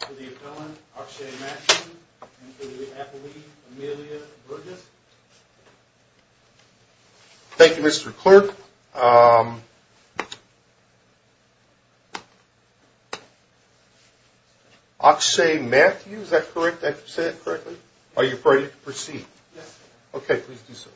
for the appellant, Akshay Matthews, and for the appellee, Amelia Burgess. Thank you, Mr. Clerk. Akshay Matthews, is that correct? Did I say that correctly? Are you ready to proceed? Yes, sir. Okay, please do so.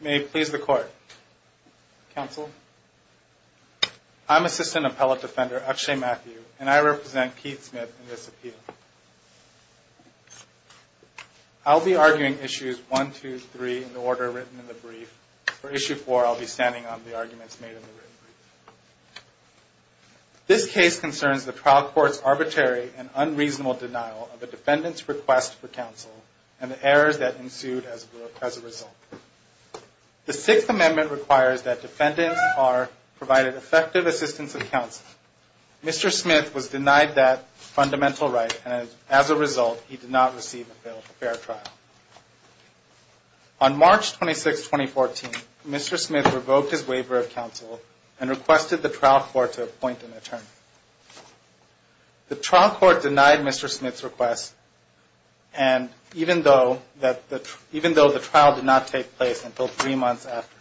May it please the Court. Counsel, I'm Assistant Appellate Defender Akshay Matthews, and I represent Keith Smith in this appeal. I'll be arguing issues 1, 2, 3 in the order written in the brief. For issue 4, I'll be standing on the arguments made in the brief. This case concerns the trial court's arbitrary and unreasonable denial of a defendant's request for counsel and the errors that ensued as a result. The Sixth Amendment requires that defendants are provided effective assistance of counsel. Mr. Smith was denied that fundamental right, and as a result, he did not receive a fair trial. On March 26, 2014, Mr. Smith revoked his waiver of counsel and requested the trial court to appoint an attorney. The trial court denied Mr. Smith's request, even though the trial did not take place until three months after.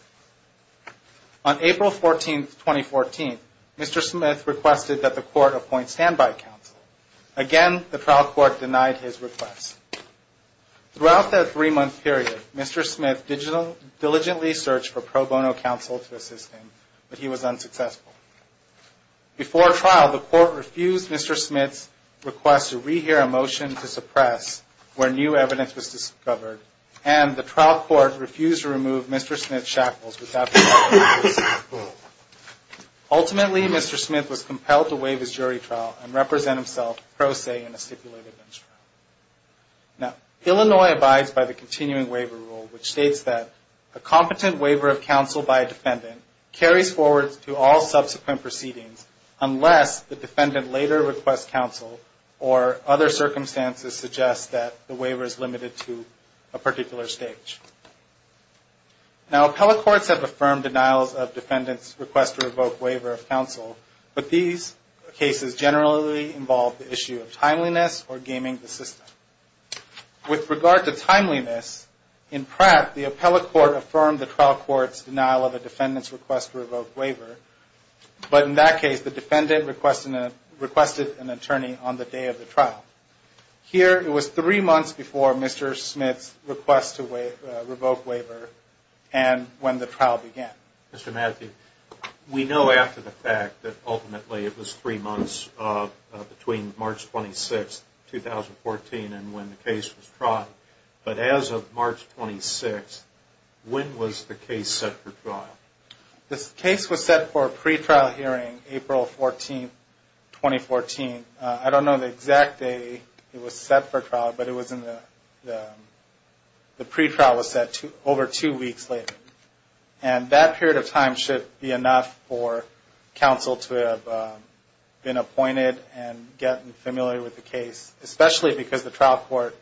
On April 14, 2014, Mr. Smith requested that the court appoint standby counsel. Again, the trial court denied his request. Throughout that three-month period, Mr. Smith diligently searched for pro bono counsel to assist him, but he was unsuccessful. Before trial, the court refused Mr. Smith's request to re-hear a motion to suppress where new evidence was discovered, and the trial court refused to remove Mr. Smith's shackles. Ultimately, Mr. Smith was compelled to waive his jury trial and represent himself pro se in a stipulated bench trial. Illinois abides by the continuing waiver rule, which states that a competent waiver of counsel by a defendant carries forward to all subsequent proceedings unless the defendant later requests counsel or other circumstances suggest that the waiver is limited to a particular stage. Now, appellate courts have affirmed denials of defendants' request to revoke waiver of counsel, but these cases generally involve the issue of timeliness or gaming the system. With regard to timeliness, in Pratt, the appellate court affirmed the trial court's denial of a defendant's request to revoke waiver, but in that case, the defendant requested an attorney on the day of the trial. Here, it was three months before Mr. Smith's request to revoke waiver and when the trial began. Mr. Matthew, we know after the fact that ultimately it was three months between March 26, 2014 and when the case was tried, but as of March 26, when was the case set for trial? This case was set for a pretrial hearing April 14, 2014. I don't know the exact day it was set for trial, but the pretrial was set over two weeks later. And that period of time should be enough for counsel to have been appointed and gotten familiar with the case, especially because the trial court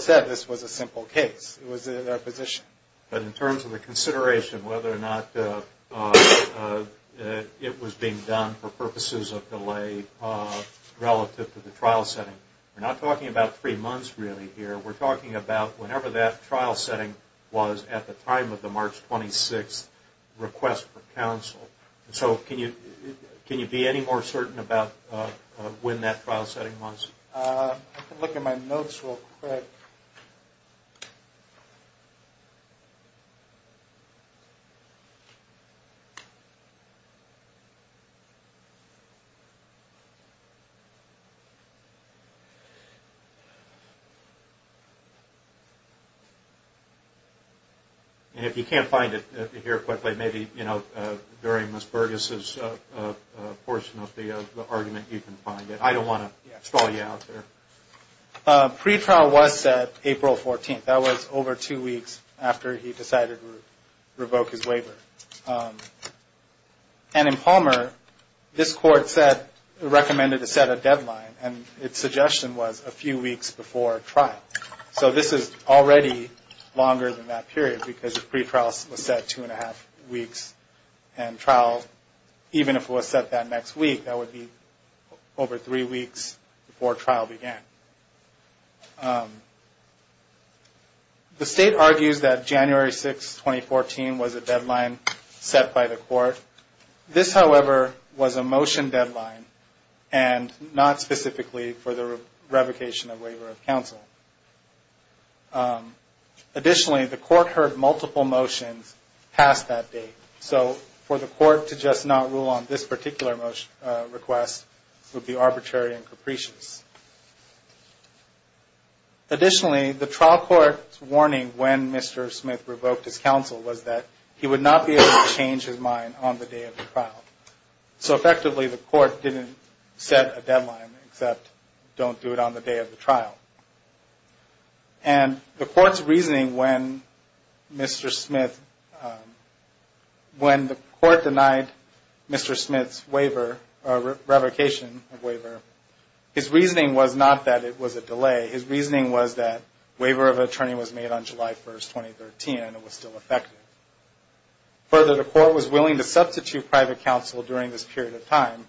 said this was a simple case. It was their position. In terms of the consideration whether or not it was being done for purposes of delay relative to the trial setting, we're not talking about three months really here. We're talking about whenever that trial setting was at the time of the March 26 request for counsel. So can you be any more certain about when that trial setting was? I can look at my notes real quick. And if you can't find it here quickly, maybe during Ms. Burgess's portion of the argument you can find it. I don't want to stall you out. Pretrial was set April 14. That was over two weeks after he decided to revoke his waiver. And in Palmer, this court recommended to set a deadline and its suggestion was a few weeks before trial. So this is already longer than that period because the pretrial was set two and a half weeks and trial, even if it was set that next week, that would be over three weeks before trial. The state argues that January 6, 2014 was a deadline set by the court. This, however, was a motion deadline and not specifically for the revocation of waiver of counsel. Additionally, the court heard multiple motions past that date. So for the court to just not rule on this particular request would be arbitrary and capricious. Additionally, the trial court's warning when Mr. Smith revoked his counsel was that he would not be able to change his mind on the day of the trial. So effectively, the court didn't set a deadline except don't do it on the day of the trial. And the court's reasoning when Mr. Smith, when the court denied Mr. Smith's waiver or revocation of waiver, his reasoning was that he would not be able to change his mind on the day of the trial. Further, the court was willing to substitute private counsel during this period of time,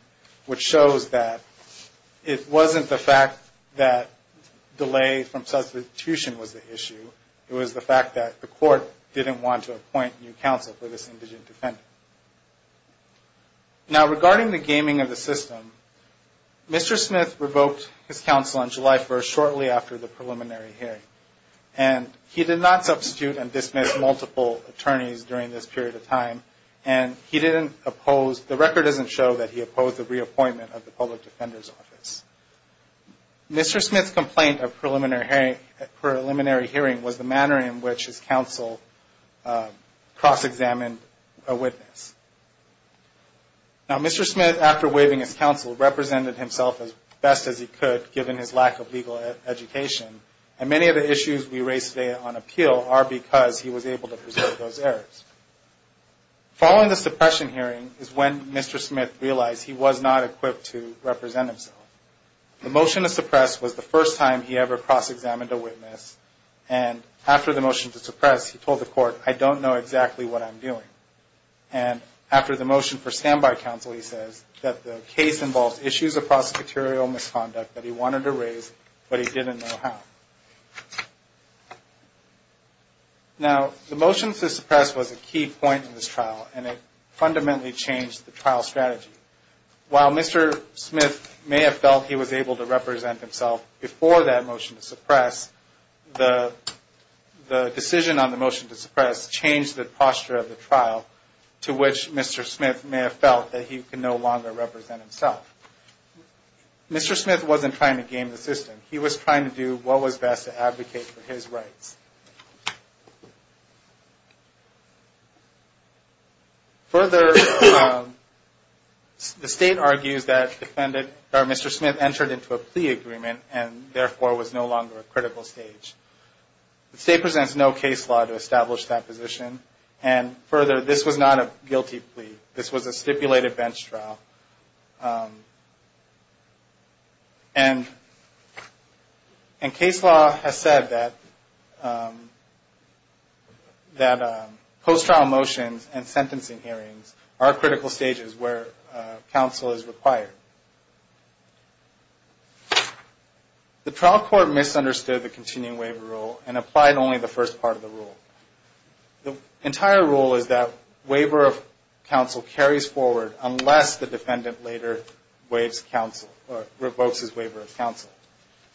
which shows that it wasn't the fact that delay from substitution was the issue. It was the fact that the court didn't want to appoint new counsel for this indigent defendant. Now, regarding the gaming of the system, Mr. Smith revoked his counsel on July 1, shortly after the preliminary hearing. And he did not substitute and dismiss multiple attorneys during this period of time. And he didn't oppose, the record doesn't show that he opposed the reappointment of the public defender's office. Mr. Smith's complaint of preliminary hearing was the manner in which his counsel cross-examined a witness. And Mr. Smith's complaint of preliminary hearing was the manner in which his counsel cross-examined a witness. Now, Mr. Smith, after waiving his counsel, represented himself as best as he could, given his lack of legal education. And many of the issues we raise today on appeal are because he was able to preserve those errors. Following the suppression hearing is when Mr. Smith realized he was not equipped to represent himself. The motion to suppress was the first time he ever cross-examined a witness. And after the motion to suppress, he told the court, I don't know exactly what I'm doing. And after the motion for standby counsel, he says that the case involves issues of prosecutorial misconduct that he wanted to raise, but he didn't know how. Now, the motion to suppress was a key point in this trial, and it fundamentally changed the trial strategy. While Mr. Smith may have felt he was able to represent himself before that motion to suppress, the decision on the motion to suppress changed the posture of the trial. To which Mr. Smith may have felt that he could no longer represent himself. Mr. Smith wasn't trying to game the system. He was trying to do what was best to advocate for his rights. Further, the State argues that Mr. Smith entered into a plea agreement and therefore was no longer a critical stage. The State presents no case law to establish that position. And further, this was not a guilty plea. This was a stipulated bench trial. And case law has said that post-trial motions and sentencing hearings are critical stages where counsel is required. The trial court misunderstood the continuing waiver rule and applied only the first part of the rule. The entire rule is that waiver of counsel carries forward unless the defendant later revokes his waiver of counsel.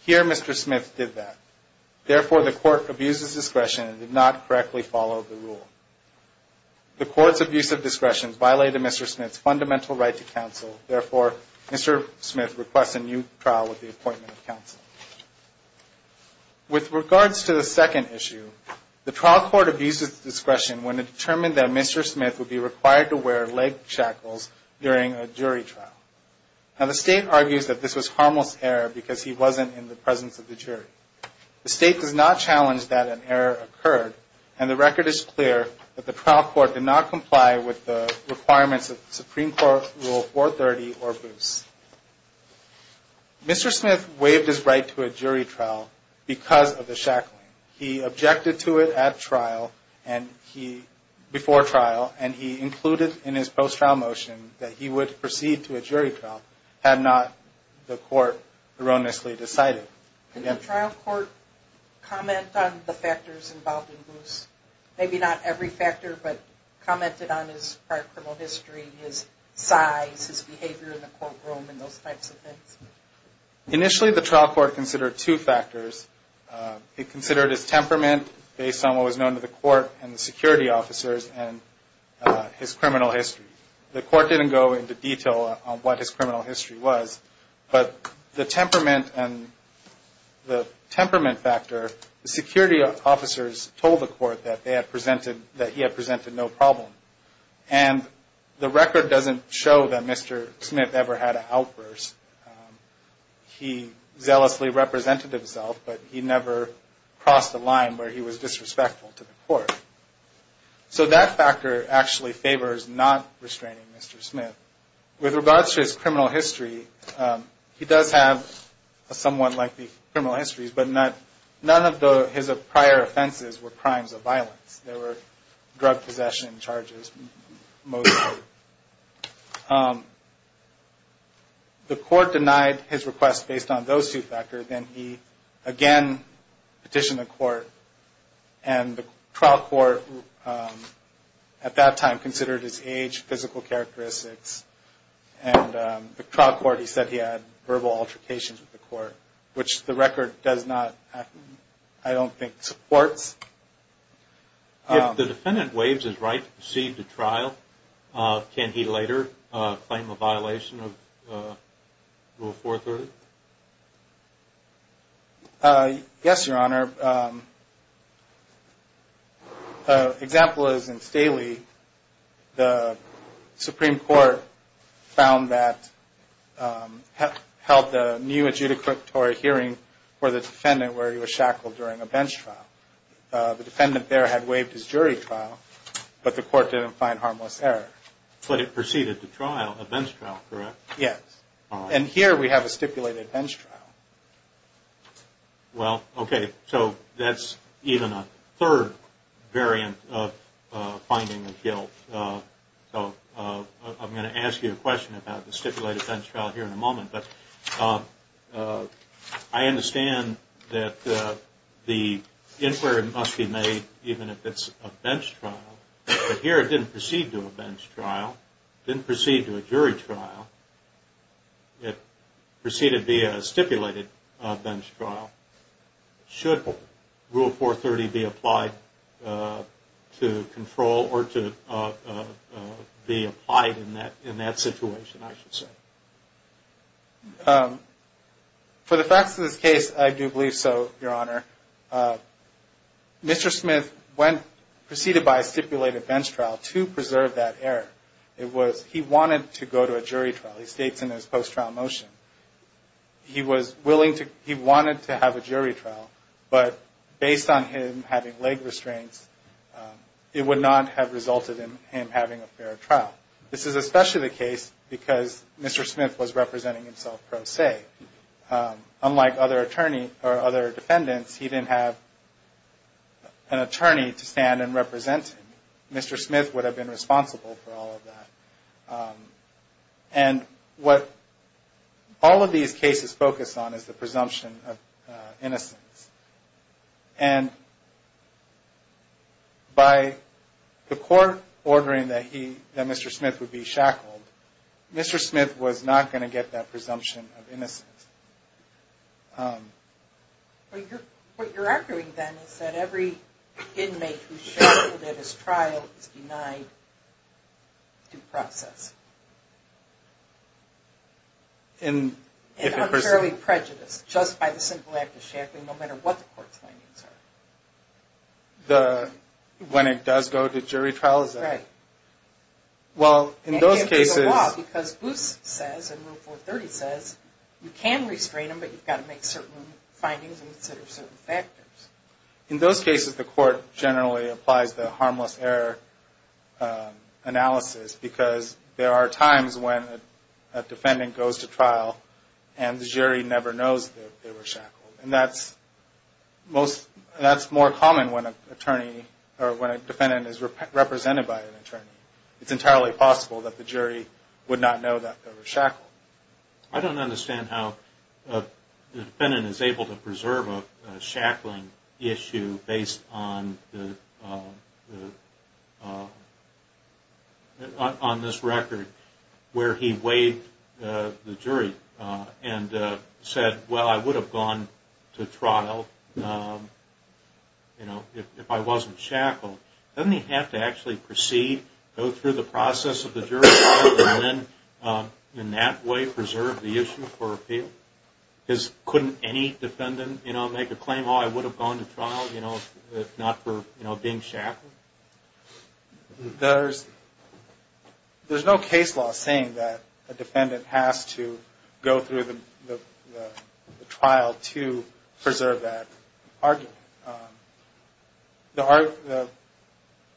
Here, Mr. Smith did that. Therefore, the court abuses discretion and did not correctly follow the rule. The court's abuse of discretion violated Mr. Smith's fundamental right to counsel. Therefore, Mr. Smith requests a new trial with the appointment of counsel. With regards to the second issue, the trial court abuses discretion when it determined that Mr. Smith would be required to wear leg shackles during a jury trial. Now, the State argues that this was a harmless error because he wasn't in the presence of the jury. The State does not challenge that an error occurred. And the record is clear that the trial court did not comply with the requirements of Supreme Court Rule 430 or Bruce. Mr. Smith waived his right to a jury trial because of the shackling. He objected to it at trial, before trial, and he included in his post-trial motion that he would proceed to a jury trial had not the court erroneously decided. So, can the trial court comment on the factors involved in Bruce? Maybe not every factor, but comment on his prior criminal history, his size, his behavior in the courtroom, and those types of things. Initially, the trial court considered two factors. It considered his temperament, based on what was known to the court and the security officers, and his criminal history. The court didn't go into detail on what his criminal history was, but the temperament factor, the security officers told the court that he had presented no problem. And the record doesn't show that Mr. Smith ever had an outburst. He zealously represented himself, but he never crossed a line where he was disrespectful to the court. So, that factor actually favors not restraining Mr. Smith. With regards to his criminal history, he does have a somewhat likely criminal history, but none of his prior offenses were crimes of violence. There were drug possession charges, most of them. The court denied his request based on those two factors, and he again petitioned the court, and the trial court decided that he was not going to restrain Mr. Smith. The trial court, at that time, considered his age, physical characteristics, and the trial court, he said he had verbal altercations with the court, which the record does not, I don't think, supports. If the defendant waives his right to proceed to trial, can he later claim a violation of Rule 430? Yes, Your Honor. An example is in Staley, the Supreme Court found that, held the new adjudicatory hearing for the defendant where he was shackled during a bench trial. The defendant there had waived his jury trial, but the court didn't find harmless error. But it proceeded to trial, a bench trial, correct? Yes. And here we have a stipulated bench trial. Well, okay, so that's even a third variant of finding a guilt. So, I'm going to ask you a question about the stipulated bench trial here in a moment, but I understand that the inquiry must be made even if it's a bench trial, but here it didn't proceed to a bench trial. It didn't proceed to a jury trial. It proceeded via a stipulated bench trial. Should Rule 430 be applied to control or to be applied in that situation, I should say? For the facts of this case, I do believe so, Your Honor. Mr. Smith went, proceeded by a stipulated bench trial to preserve that error. It was, he wanted to go to a jury trial, he states in his post-trial motion. He was willing to, he wanted to have a jury trial, but based on him having leg restraints, it would not have resulted in him having a fair trial. This is especially the case because Mr. Smith was representing himself pro se. Unlike other attorneys, or other defendants, he didn't have an attorney to stand and represent him. Mr. Smith would have been responsible for all of that. And what all of these cases focus on is the presumption of innocence. And by the court ordering that he, that Mr. Smith would be shackled, Mr. Smith was not going to get that presumption of innocence. Well, what you're arguing then is that every inmate who's shackled at his trial is denied due process. And unfairly prejudiced, just by the simple act of shackling, no matter what the court's findings are. The, when it does go to jury trial, is that right? Right. Well, in those cases... In those cases, the court generally applies the harmless error analysis. Because there are times when a defendant goes to trial and the jury never knows that they were shackled. And that's most, that's more common when an attorney, or when a defendant is represented by an attorney. It's entirely possible that the jury would not know that they were shackled. I don't understand how the defendant is able to preserve a shackling issue based on the, on this record where he weighed the jury and said, well, I would have gone to trial, you know, if I wasn't shackled. Doesn't he have to actually proceed, go through the process of the jury trial, and then in that way preserve the issue for appeal? Because couldn't any defendant, you know, make a claim, oh, I would have gone to trial, you know, if not for, you know, being shackled? There's no case law saying that a defendant has to go through the trial to preserve that argument. The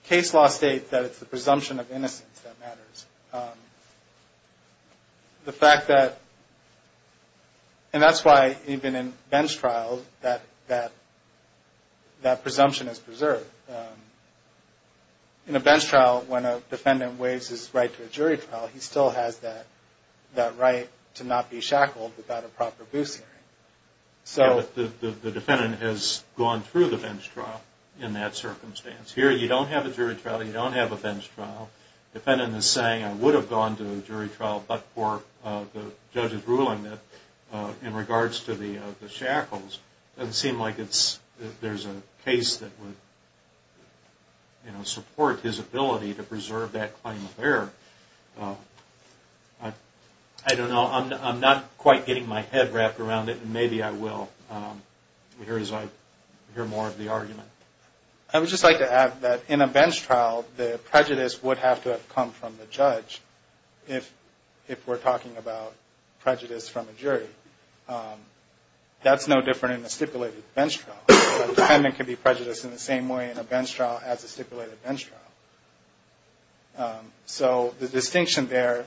case law states that it's the presumption of innocence that matters. The fact that, and that's why even in bench trials, that presumption is preserved. In a bench trial, when a defendant weighs his right to a jury trial, he still has that right to not be shackled without a proper boost hearing. So the defendant has gone through the bench trial in that circumstance. Here you don't have a jury trial, you don't have a bench trial. The defendant is saying, I would have gone to a jury trial, but for the judge's ruling that in regards to the shackles, it doesn't seem like there's a case that would, you know, support his ability to preserve that claim of error. I don't know, I'm not quite getting my head wrapped around it, and maybe I will as I hear more of the argument. I would just like to add that in a bench trial, the prejudice would have to have come from the judge if we're talking about prejudice from a jury. That's no different in a stipulated bench trial. A defendant can be prejudiced in the same way in a bench trial as a stipulated bench trial. So the distinction there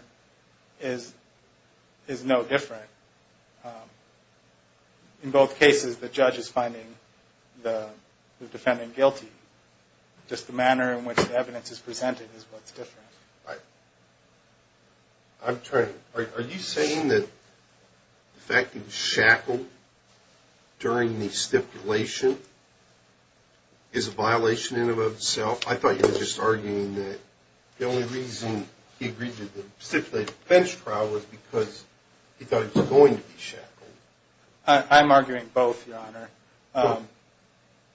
is no different. In both cases, the judge is finding the defendant guilty. Just the manner in which the evidence is presented is what's different. Are you saying that the fact that he was shackled during the stipulation is a violation in and of itself? I thought you were just arguing that the only reason he agreed to the stipulated bench trial was because he thought he was going to be shackled.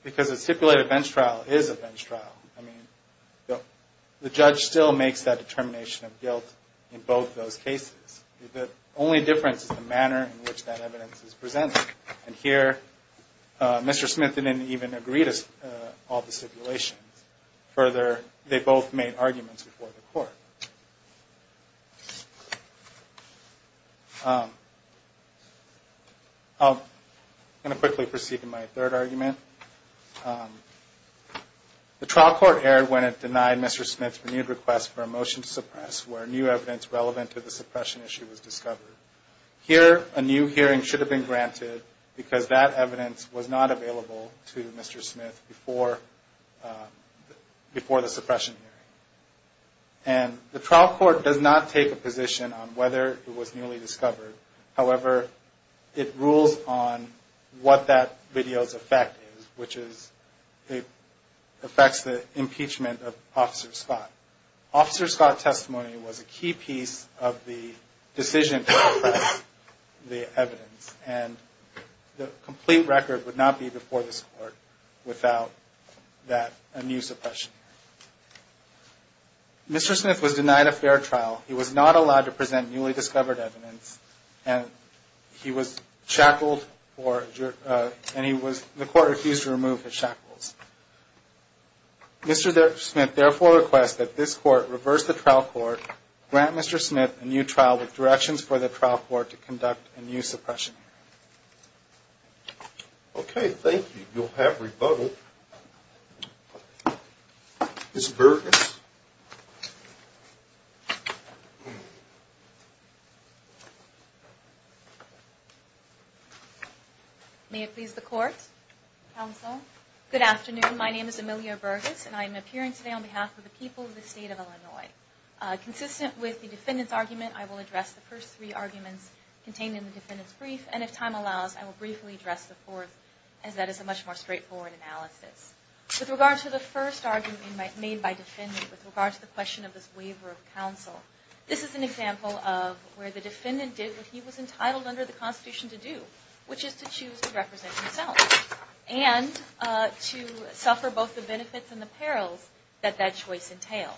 Because a stipulated bench trial is a bench trial. The judge still makes that determination of guilt in both those cases. The only difference is the manner in which that evidence is presented. And here, Mr. Smith didn't even agree to all the stipulations. The trial court erred when it denied Mr. Smith's renewed request for a motion to suppress, where new evidence relevant to the suppression issue was discovered. Here, a new hearing should have been granted, because that evidence was not available to Mr. Smith before the suppression hearing. And the trial court does not take a position on whether it was newly discovered. However, it rules on what that video's effect is, which is it affects the impeachment of Officer Scott. Officer Scott's testimony was a key piece of the decision to suppress the evidence. And the complete record would not be before this Court without that, a new suppression hearing. Mr. Smith was denied a fair trial. He was not allowed to present newly discovered evidence, and he was shackled, and the Court refused to remove his shackles. Mr. Smith therefore requests that this Court reverse the trial court, grant Mr. Smith a new trial with directions for the trial court to conduct a new suppression hearing. Okay, thank you. You'll have rebuttal. Ms. Burgess. May it please the Court, Counsel. Good afternoon. My name is Emilio Burgess, and I am appearing today on behalf of the people of the State of Illinois. Consistent with the defendant's argument, I will address the first three arguments contained in the defendant's brief. And if time allows, I will briefly address the fourth, as that is a much more straightforward analysis. With regard to the first argument made by defendant, with regard to the question of this waiver of counsel, this is an example of where the defendant did what he was entitled under the Constitution to do, which is to choose to represent himself, and to suffer both the benefits and the perils that that choice entailed.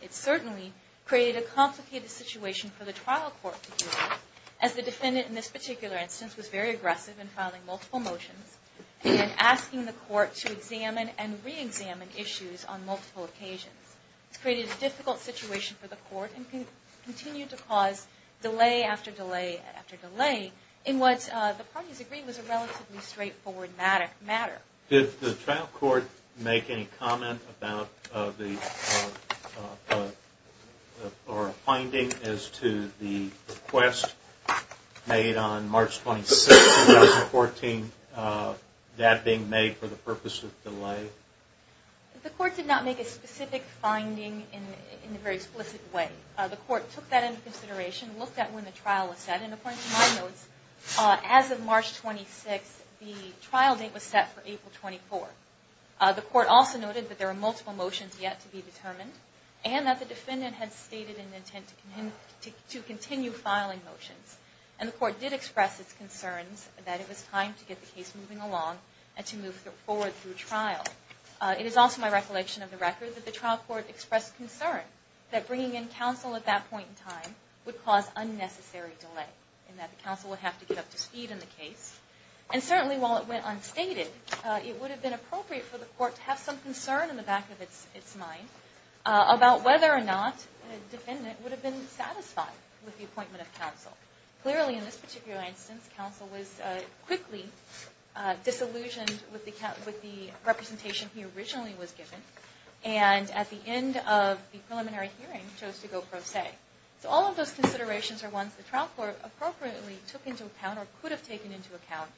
It certainly created a complicated situation for the trial court to deal with, as the defendant in this particular instance was very aggressive in filing multiple motions, and asking the Court to examine and re-examine issues on multiple occasions. It created a difficult situation for the Court, and continued to cause delay after delay after delay, in what the parties agreed was a relatively straightforward matter. Did the trial court make any comment or finding as to the request made on March 26, 2014, that being made for the purpose of delay? The Court did not make a specific finding in a very explicit way. The Court took that into consideration, looked at when the trial was set, and according to my notes, as of March 26, the trial date was set for April 24. The Court also noted that there were multiple motions yet to be determined, and that the defendant had stated an intent to continue filing motions. And the Court did express its concerns that it was time to get the case moving along, and to move forward through trial. It is also my recollection of the record that the trial court expressed concern that bringing in counsel at that point in time would cause unnecessary delay, and that the counsel would have to get up to speed in the case. And certainly while it went unstated, it would have been appropriate for the Court to have some concern in the back of its mind about whether or not a defendant would have been satisfied with the appointment of counsel. Clearly in this particular instance, counsel was quickly disillusioned with the representation he originally was given, and at the end of the preliminary hearing, chose to go pro se. So all of those considerations are ones the trial court appropriately took into account, or could have taken into account,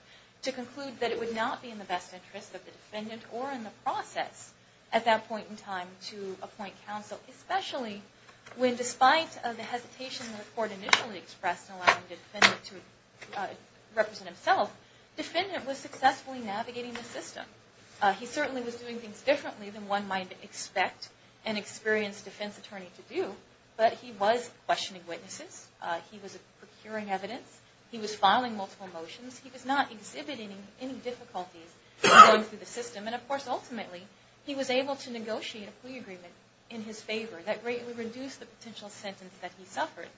to conclude that it would not be in the best interest of the defendant, or in the process, at that point in time, to appoint counsel. Especially when despite the hesitation the Court initially expressed in allowing the defendant to represent himself, the defendant was successfully navigating the system. He certainly was doing things differently than one might expect an experienced defense attorney to do, but he was questioning witnesses, he was procuring evidence, he was filing multiple motions, he was not exhibiting any difficulties going through the system, and of course ultimately, he was able to negotiate a plea agreement in his favor that greatly reduced the potential sentence that he suffered.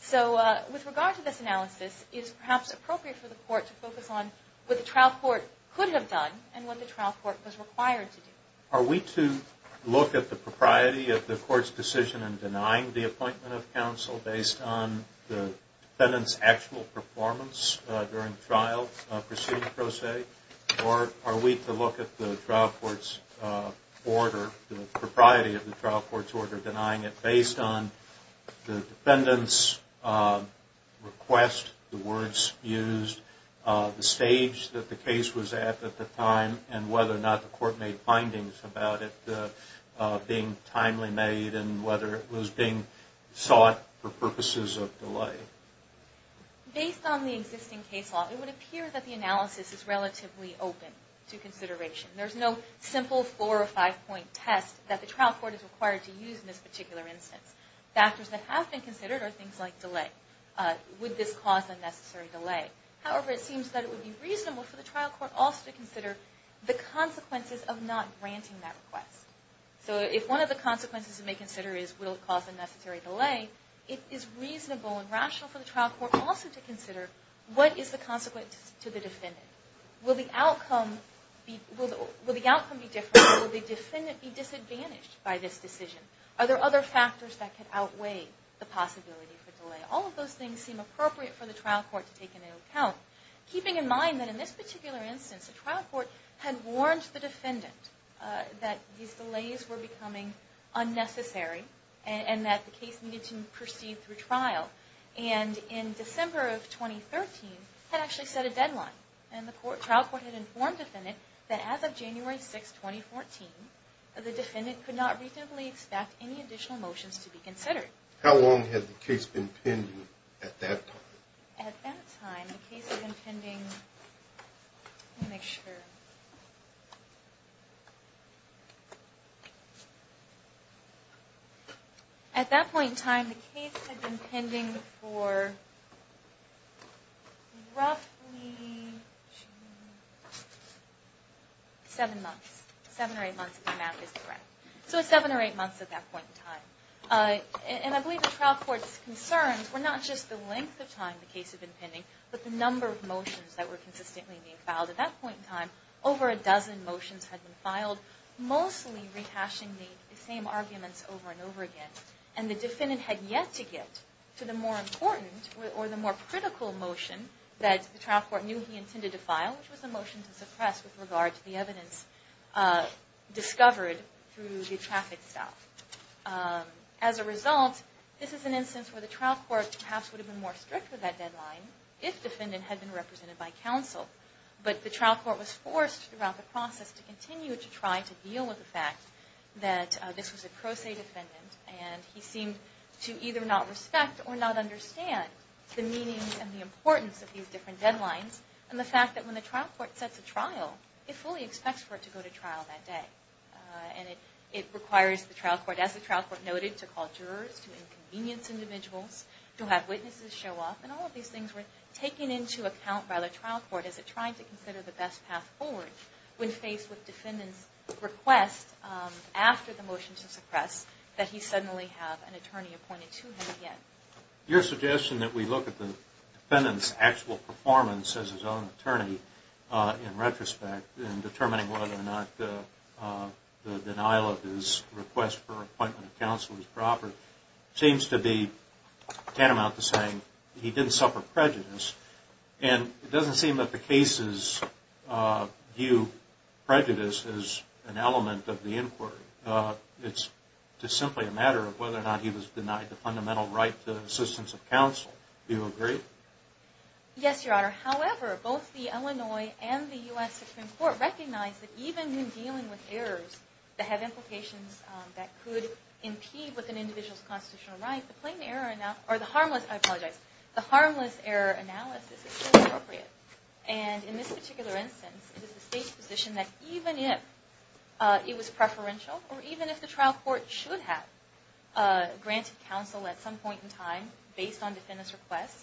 So with regard to this analysis, it is perhaps appropriate for the Court to focus on what the trial court could have done, and what the trial court was required to do. Are we to look at the propriety of the Court's decision in denying the appointment of counsel based on the defendant's actual performance during trial proceedings, per se? Or are we to look at the trial court's order, the propriety of the trial court's order, denying it based on the defendant's request, the words used, the stage that the case was at at the time, and whether or not the Court made findings about it being timely made, and whether it was being sought for purposes of delay? Based on the existing case law, it would appear that the analysis is relatively open to consideration. There's no simple four or five point test that the trial court is required to use in this particular instance. Factors that have been considered are things like delay. Would this cause unnecessary delay? However, it seems that it would be reasonable for the trial court also to consider the consequences of not granting that request. So if one of the consequences it may consider is will it cause unnecessary delay, it is reasonable and rational for the trial court also to consider what is the consequence to the defendant. Will the outcome be different? Will the defendant be disadvantaged by this decision? Are there other factors that could outweigh the possibility for delay? All of those things seem appropriate for the trial court to take into account, keeping in mind that in this particular instance, the trial court had warned the defendant that these delays were becoming unnecessary and that the case needed to proceed through trial. And in December of 2013, had actually set a deadline. And the trial court had informed the defendant that as of January 6, 2014, the defendant could not reasonably expect any additional motions to be considered. How long had the case been pending at that time? At that point in time, the case had been pending for roughly seven or eight months, if my math is correct. So seven or eight months at that point in time. And I believe the trial court's concerns were not just the length of time the case had been pending, but the number of motions that were consistently being filed at that point in time. Over a dozen motions had been filed, mostly rehashing the same arguments over and over again. And the defendant had yet to get to the more important or the more critical motion that the trial court knew he intended to file, which was the motion to suppress with regard to the evidence discovered through the traffic stop. As a result, this is an instance where the trial court perhaps would have been more strict with that deadline if the defendant had been represented by counsel. But the trial court was forced throughout the process to continue to try to deal with the fact that this was a pro se defendant and he seemed to either not respect or not understand the meaning and the importance of these different deadlines and the fact that when the trial court sets a trial, it fully expects for it to go to trial that day. And it requires the trial court, as the trial court noted, to call jurors, to inconvenience individuals, to have witnesses show up. And all of these things were taken into account by the trial court as it tried to consider the best path forward when faced with defendant's request after the motion to suppress that he suddenly have an attorney appointed to him again. Your suggestion that we look at the defendant's actual performance as his own attorney in retrospect in determining whether or not the denial of his request for appointment of counsel is proper seems to be tantamount to saying he didn't suffer prejudice. And it doesn't seem that the cases view prejudice as an element of the inquiry. It's just simply a matter of whether or not he was denied the fundamental right to assistance of counsel. Do you agree? Yes, Your Honor. However, both the Illinois and the U.S. Supreme Court recognize that even in dealing with errors that have implications that could impede with an individual's constitutional right, the harmless error analysis is still appropriate. And in this particular instance, it is the State's position that even if it was preferential or even if the trial court should have granted counsel at some point in time based on defendant's request,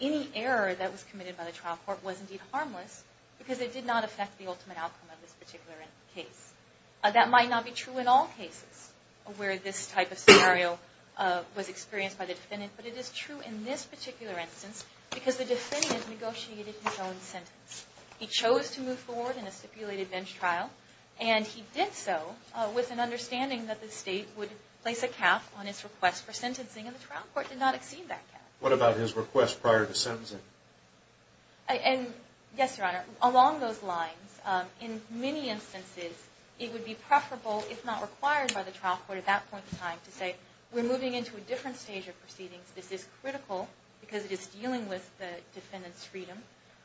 any error that was committed by the trial court was indeed harmless because it did not affect the ultimate outcome of this particular case. That might not be true in all cases where this type of scenario was experienced by the defendant, but it is true in this particular instance because the defendant negotiated his own sentence. He chose to move forward in a stipulated bench trial, and he did so with an understanding that the State would place a cap on his request for sentencing, and the trial court did not exceed that cap. What about his request prior to sentencing? Yes, Your Honor. Along those lines, in many instances, it would be preferable, if not required by the trial court at that point in time, to say we're moving into a different stage of proceedings. This is critical because it is dealing with the defendant's freedom.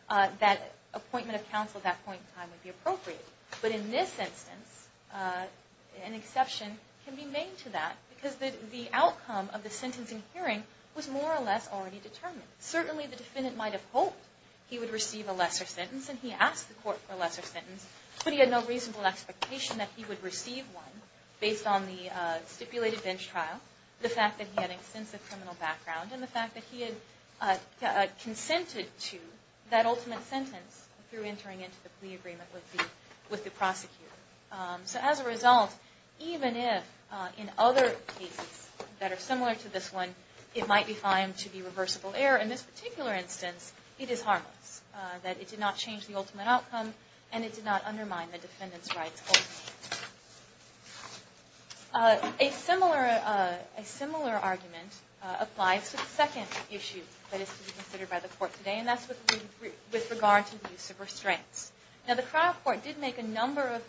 That appointment of counsel at that point in time would be appropriate. But in this instance, an exception can be made to that because the outcome of the sentencing hearing was more or less already determined. Certainly the defendant might have hoped he would receive a lesser sentence, and he asked the court for a lesser sentence, but he had no reasonable expectation that he would receive one based on the stipulated bench trial, the fact that he had extensive criminal background, and the fact that he had consented to that ultimate sentence through entering into the plea agreement with the prosecutor. As a result, even if in other cases that are similar to this one, it might be fine to be reversible error, in this particular instance, it is harmless. It did not change the ultimate outcome, and it did not undermine the defendant's rights. A similar argument applies to the second issue that is to be considered by the court today, and that's with regard to the use of restraints. The trial court did make a number of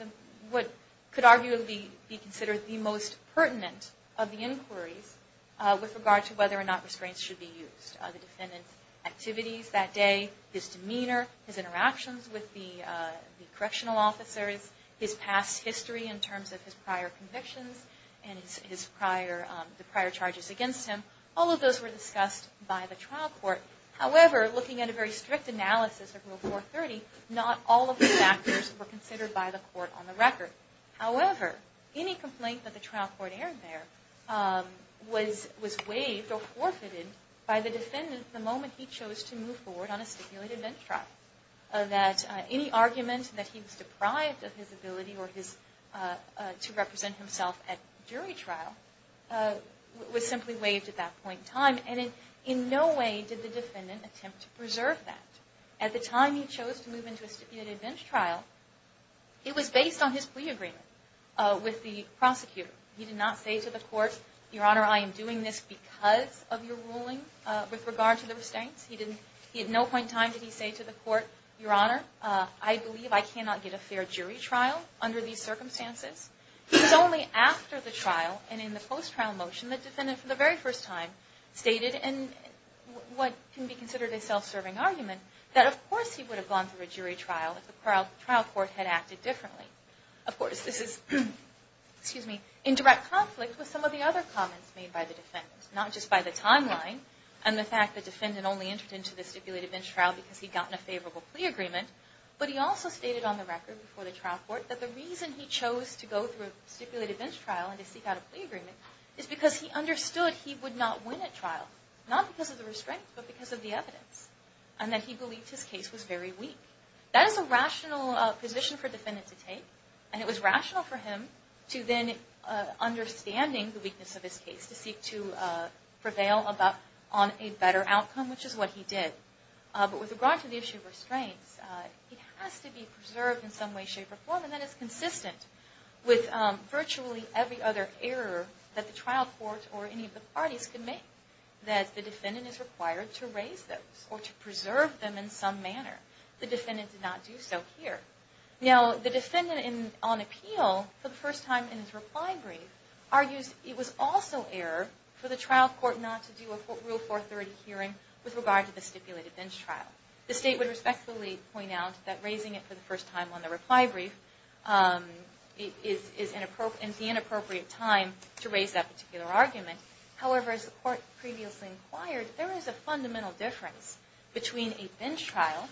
what could arguably be considered the most pertinent of the inquiries with regard to whether or not restraints should be used. The defendant's activities that day, his demeanor, his interactions with the correctional officers, his past history in terms of his prior convictions and the prior charges against him, all of those were discussed by the trial court. However, looking at a very strict analysis of Rule 430, not all of the factors were considered by the court on the record. However, any complaint that the trial court aired there was waived or forfeited by the defendant the moment he chose to move forward on a stipulated bench trial. Any argument that he was deprived of his ability to represent himself at jury trial was simply waived at that point in time, and in no way did the defendant attempt to preserve that. At the time he chose to move into a stipulated bench trial, it was based on his plea agreement with the prosecutor. He did not say to the court, Your Honor, I am doing this because of your ruling with regard to the restraints. He had no point in time did he say to the court, Your Honor, I believe I cannot get a fair jury trial under these circumstances. It was only after the trial and in the post-trial motion that the defendant for the very first time stated, in what can be considered a self-serving argument, that of course he would have gone through a jury trial if the trial court had acted differently. Of course, this is in direct conflict with some of the other comments made by the defendant, not just by the timeline and the fact that the defendant only entered into the stipulated bench trial because he had gotten a favorable plea agreement, but he also stated on the record before the trial court that the reason he chose to go through a stipulated bench trial and to seek out a plea agreement is because he understood he would not win at trial, not because of the restraints, but because of the evidence, and that he believed his case was very weak. That is a rational position for a defendant to take, and it was rational for him to then, understanding the weakness of his case, to seek to prevail on a better outcome, which is what he did. But with regard to the issue of restraints, it has to be preserved in some way, shape, or form, and that is consistent with virtually every other error that the trial court or any of the parties could make, that the defendant is required to raise those or to preserve them in some manner. The defendant did not do so here. Now, the defendant on appeal, for the first time in his reply brief, argues it was also error for the trial court not to do a Rule 430 hearing with regard to the stipulated bench trial. The State would respectfully point out that raising it for the first time on the reply brief is the inappropriate time to raise that particular argument. However, as the court previously inquired, there is a fundamental difference between a bench trial,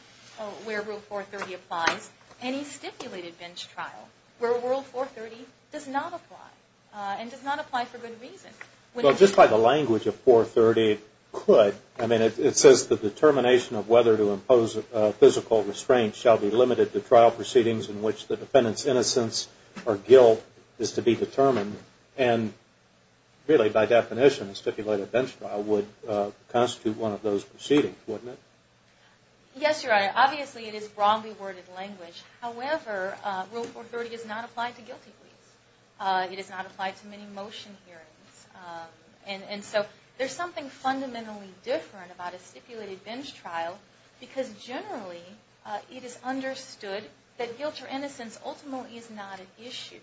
where Rule 430 applies, and a stipulated bench trial, where Rule 430 does not apply, and does not apply for good reason. Well, just by the language of 430, it could. I mean, it says the determination of whether to impose a physical restraint shall be limited to trial proceedings in which the defendant's innocence or guilt is to be determined. And really, by definition, a stipulated bench trial would constitute one of those proceedings, wouldn't it? Yes, Your Honor. Obviously, it is wrongly worded language. However, Rule 430 does not apply to guilty pleas. It does not apply to many motion hearings. And so there's something fundamentally different about a stipulated bench trial because generally it is understood that guilt or innocence ultimately is not an issue.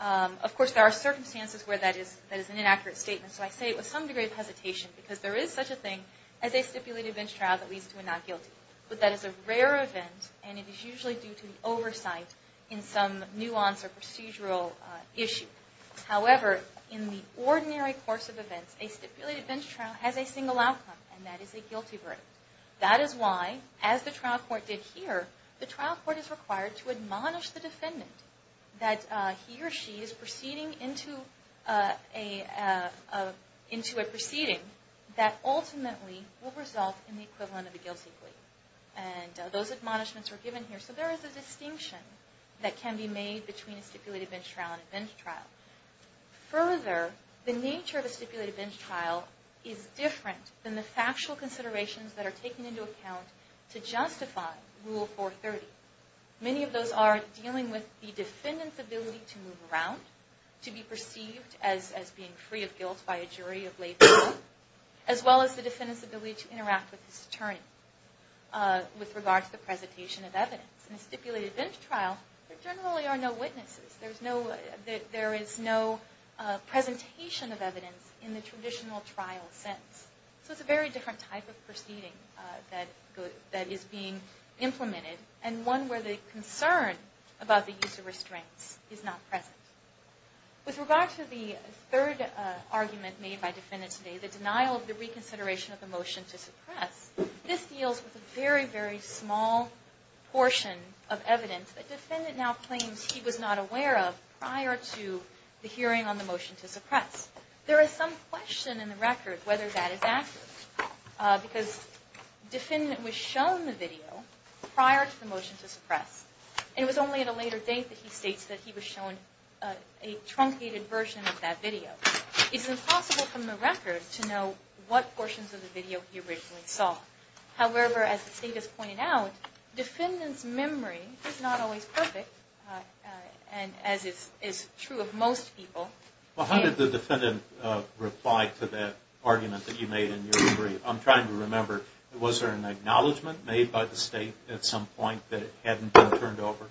Of course, there are circumstances where that is an inaccurate statement, so I say it with some degree of hesitation because there is such a thing as a stipulated bench trial that leads to a not guilty. But that is a rare event, and it is usually due to oversight in some nuance or procedural issue. However, in the ordinary course of events, a stipulated bench trial has a single outcome, and that is a guilty verdict. That is why, as the trial court did here, the trial court is required to admonish the defendant that he or she is proceeding into a proceeding that ultimately will result in the equivalent of a guilty plea. And those admonishments are given here. So there is a distinction that can be made between a stipulated bench trial and a bench trial. Further, the nature of a stipulated bench trial is different than the factual considerations that are taken into account to justify Rule 430. Many of those are dealing with the defendant's ability to move around, to be perceived as being free of guilt by a jury of lay people, as well as the defendant's ability to interact with his attorney with regard to the presentation of evidence. In a stipulated bench trial, there generally are no witnesses. There is no presentation of evidence in the traditional trial sense. So it's a very different type of proceeding that is being implemented and one where the concern about the use of restraints is not present. With regard to the third argument made by the defendant today, the denial of the reconsideration of the motion to suppress, this deals with a very, very small portion of evidence that the defendant now claims he was not aware of prior to the hearing on the motion to suppress. There is some question in the record whether that is accurate, because the defendant was shown the video prior to the motion to suppress, and it was only at a later date that he states that he was shown a truncated version of that video. It's impossible from the record to know what portions of the video he originally saw. However, as the state has pointed out, the defendant's memory is not always perfect, as is true of most people. Well, how did the defendant reply to that argument that you made in your brief? I'm trying to remember. Was there an acknowledgment made by the state at some point that it hadn't been turned over?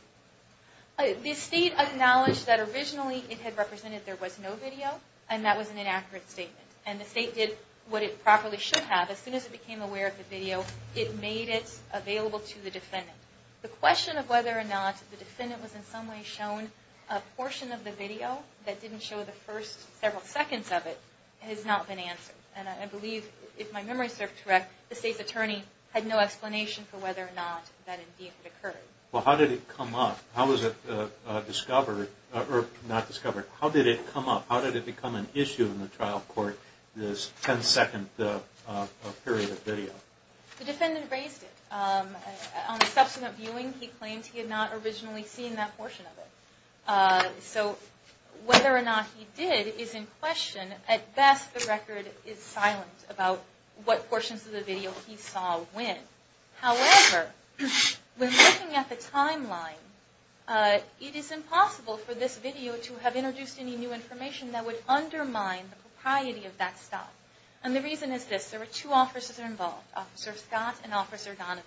The state acknowledged that originally it had represented there was no video, and that was an inaccurate statement. And the state did what it properly should have. As soon as it became aware of the video, it made it available to the defendant. The question of whether or not the defendant was in some way shown a portion of the video that didn't show the first several seconds of it has not been answered. And I believe, if my memory serves correct, the state's attorney had no explanation for whether or not that indeed had occurred. Well, how did it come up? How was it discovered or not discovered? How did it come up? How did it become an issue in the trial court, this 10-second period of video? The defendant raised it. On the subsequent viewing, he claimed he had not originally seen that portion of it. So whether or not he did is in question. At best, the record is silent about what portions of the video he saw when. However, when looking at the timeline, it is impossible for this video to have introduced any new information that would undermine the propriety of that stop. And the reason is this. There were two officers involved, Officer Scott and Officer Donovan.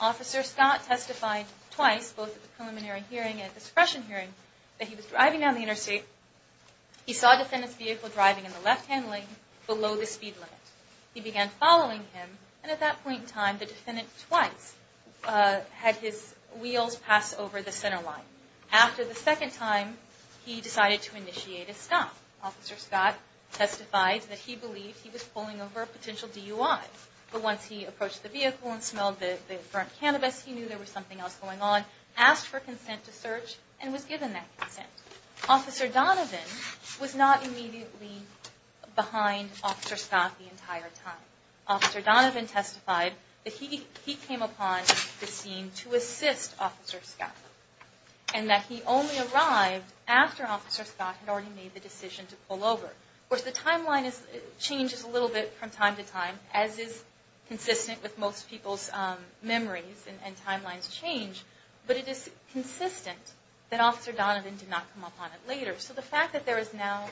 Officer Scott testified twice, both at the preliminary hearing and at the suppression hearing, that he was driving down the interstate. He saw a defendant's vehicle driving in the left-hand lane below the speed limit. He began following him, and at that point in time, the defendant twice had his wheels pass over the center line. After the second time, he decided to initiate a stop. Officer Scott testified that he believed he was pulling over a potential DUI. But once he approached the vehicle and smelled the burnt cannabis, he knew there was something else going on, asked for consent to search, and was given that consent. Officer Donovan was not immediately behind Officer Scott the entire time. Officer Donovan testified that he came upon the scene to assist Officer Scott, and that he only arrived after Officer Scott had already made the decision to pull over. Of course, the timeline changes a little bit from time to time, as is consistent with most people's memories, and timelines change. But it is consistent that Officer Donovan did not come upon it later. So the fact that there is now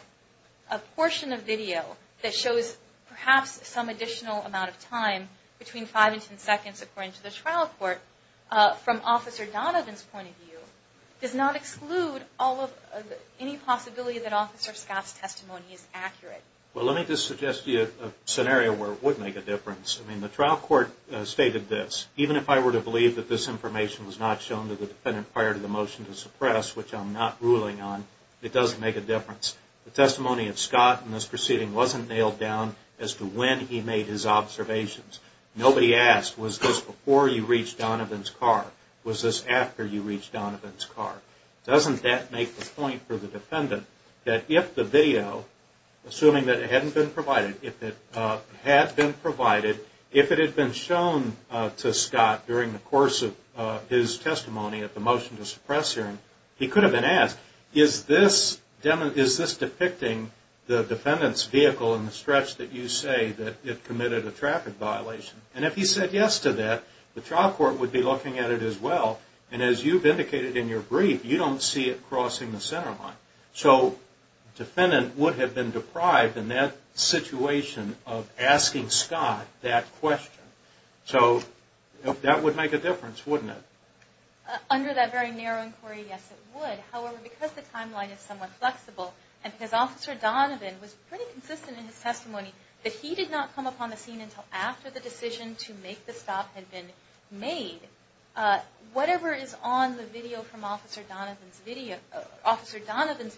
a portion of video that shows perhaps some additional amount of time, between five and ten seconds, according to the trial court, from Officer Donovan's point of view, does not exclude any possibility that Officer Scott's testimony is accurate. Well, let me just suggest to you a scenario where it would make a difference. I mean, the trial court stated this. Even if I were to believe that this information was not shown to the defendant prior to the motion to suppress, which I'm not ruling on, it doesn't make a difference. The testimony of Scott in this proceeding wasn't nailed down as to when he made his observations. Nobody asked, was this before you reached Donovan's car? Was this after you reached Donovan's car? Doesn't that make the point for the defendant that if the video, assuming that it hadn't been provided, if it had been provided, if it had been shown to Scott during the course of his testimony at the motion to suppress hearing, he could have been asked, is this depicting the defendant's vehicle in the stretch that you say that it committed a traffic violation? And if he said yes to that, the trial court would be looking at it as well. And as you've indicated in your brief, you don't see it crossing the center line. So the defendant would have been deprived in that situation of asking Scott that question. So that would make a difference, wouldn't it? Under that very narrow inquiry, yes, it would. However, because the timeline is somewhat flexible and because Officer Donovan was pretty consistent in his testimony that he did not come upon the scene until after the decision to make the stop had been made, whatever is on the video from Officer Donovan's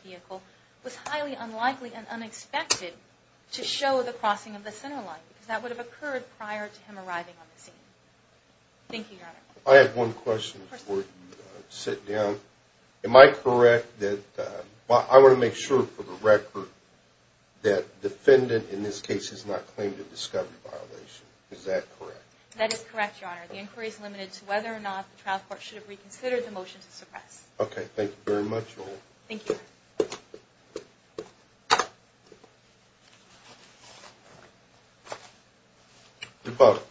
vehicle was highly unlikely and unexpected to show the crossing of the center line because that would have occurred prior to him arriving on the scene. Thank you, Your Honor. I have one question before you sit down. Am I correct that – well, I want to make sure for the record that defendant in this case has not claimed a discovery violation. Is that correct? That is correct, Your Honor. The inquiry is limited to whether or not the trial court should have reconsidered the motion to suppress. Okay. Thank you very much. Thank you. Your vote.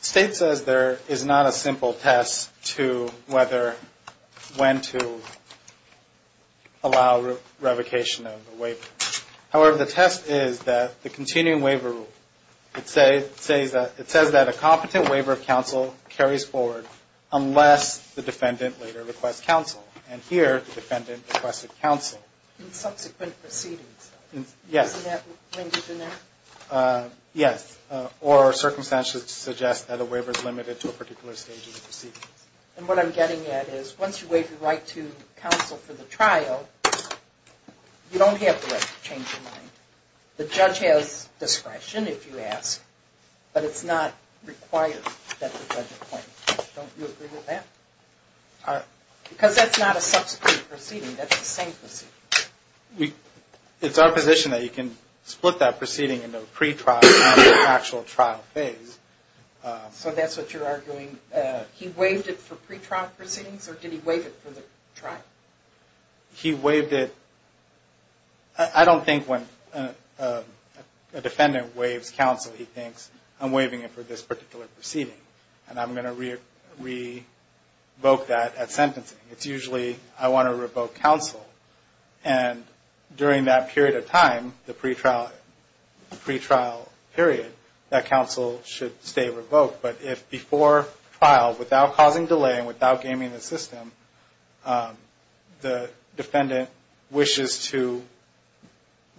State says there is not a simple test to whether when to allow revocation of the waiver. However, the test is that the continuing waiver rule, it says that a competent waiver of counsel carries forward unless the defendant later requests counsel. And here, the defendant requested counsel. In subsequent proceedings. Yes. Isn't that linked in there? Yes. Or circumstances suggest that a waiver is limited to a particular stage in the proceedings. And what I'm getting at is once you waive your right to counsel for the trial, you don't have the right to change your mind. The judge has discretion if you ask, but it's not required that the judge appoint you. Don't you agree with that? Because that's not a subsequent proceeding. That's the same proceeding. It's our position that you can split that proceeding into a pretrial and an actual trial phase. So that's what you're arguing. He waived it for pretrial proceedings, or did he waive it for the trial? He waived it. I don't think when a defendant waives counsel, he thinks, I'm waiving it for this particular proceeding, and I'm going to revoke that at sentencing. It's usually, I want to revoke counsel. And during that period of time, the pretrial period, that counsel should stay revoked. But if before trial, without causing delay and without gaming the system, the defendant wishes to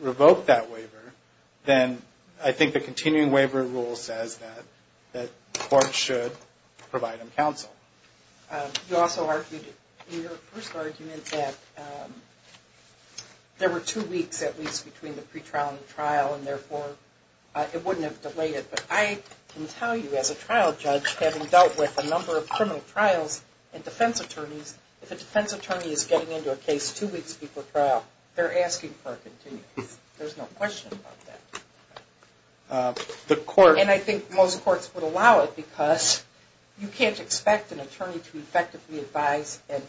revoke that waiver, then I think the continuing waiver rule says that the court should provide him counsel. You also argued in your first argument that there were two weeks, at least, between the pretrial and the trial, and therefore it wouldn't have delayed it. But I can tell you, as a trial judge, having dealt with a number of criminal trials and defense attorneys, if a defense attorney is getting into a case two weeks before trial, they're asking for a continuing case. There's no question about that. And I think most courts would allow it because you can't expect an attorney to effectively advise and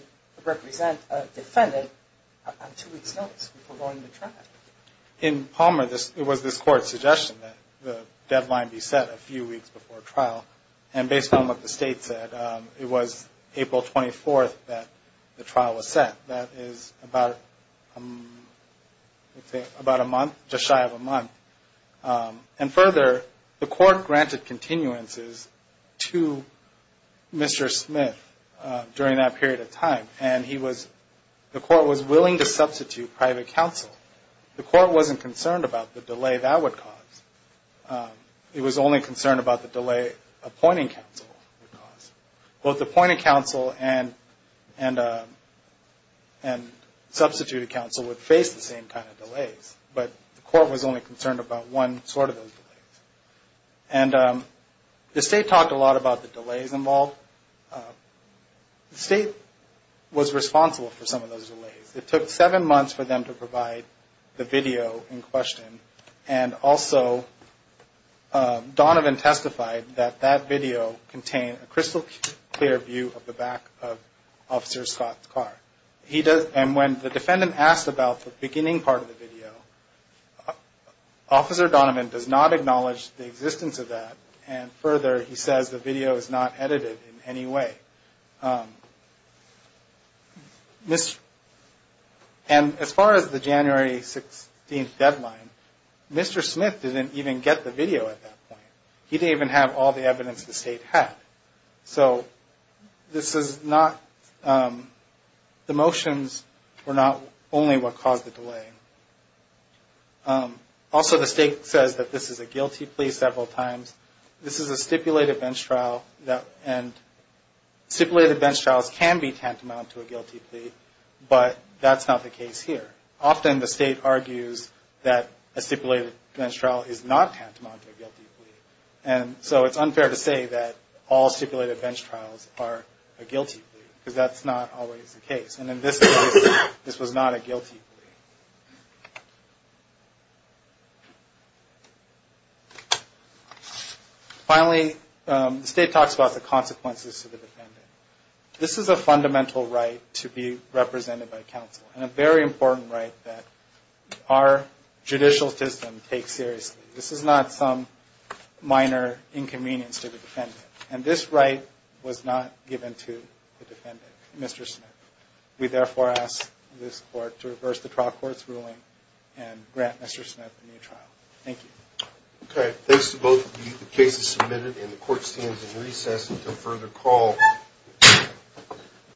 represent a defendant on two weeks notice before going to trial. In Palmer, it was this court's suggestion that the deadline be set a few weeks before trial. And based on what the state said, it was April 24th that the trial was set. That is about a month, just shy of a month. And further, the court granted continuances to Mr. Smith during that period of time, and the court was willing to substitute private counsel. The court wasn't concerned about the delay that would cause. It was only concerned about the delay appointing counsel would cause. Both appointed counsel and substituted counsel would face the same kind of delays, but the court was only concerned about one sort of those delays. And the state talked a lot about the delays involved. The state was responsible for some of those delays. It took seven months for them to provide the video in question, and also Donovan testified that that video contained a crystal clear view of the back of Officer Scott's car. And when the defendant asked about the beginning part of the video, Officer Donovan does not acknowledge the existence of that, and further he says the video is not edited in any way. And as far as the January 16th deadline, Mr. Smith didn't even get the video at that point. He didn't even have all the evidence the state had. So this is not, the motions were not only what caused the delay. Also the state says that this is a guilty plea several times. This is a stipulated bench trial and stipulated bench trials can be tantamount to a guilty plea, but that's not the case here. Often the state argues that a stipulated bench trial is not tantamount to a guilty plea. And so it's unfair to say that all stipulated bench trials are a guilty plea, because that's not always the case. And in this case, this was not a guilty plea. Finally, the state talks about the consequences to the defendant. This is a fundamental right to be represented by counsel and a very important right that our judicial system takes seriously. This is not some minor inconvenience to the defendant. And this right was not given to the defendant, Mr. Smith. We therefore ask this court to reverse the trial court's ruling and grant Mr. Smith a new trial. Thank you.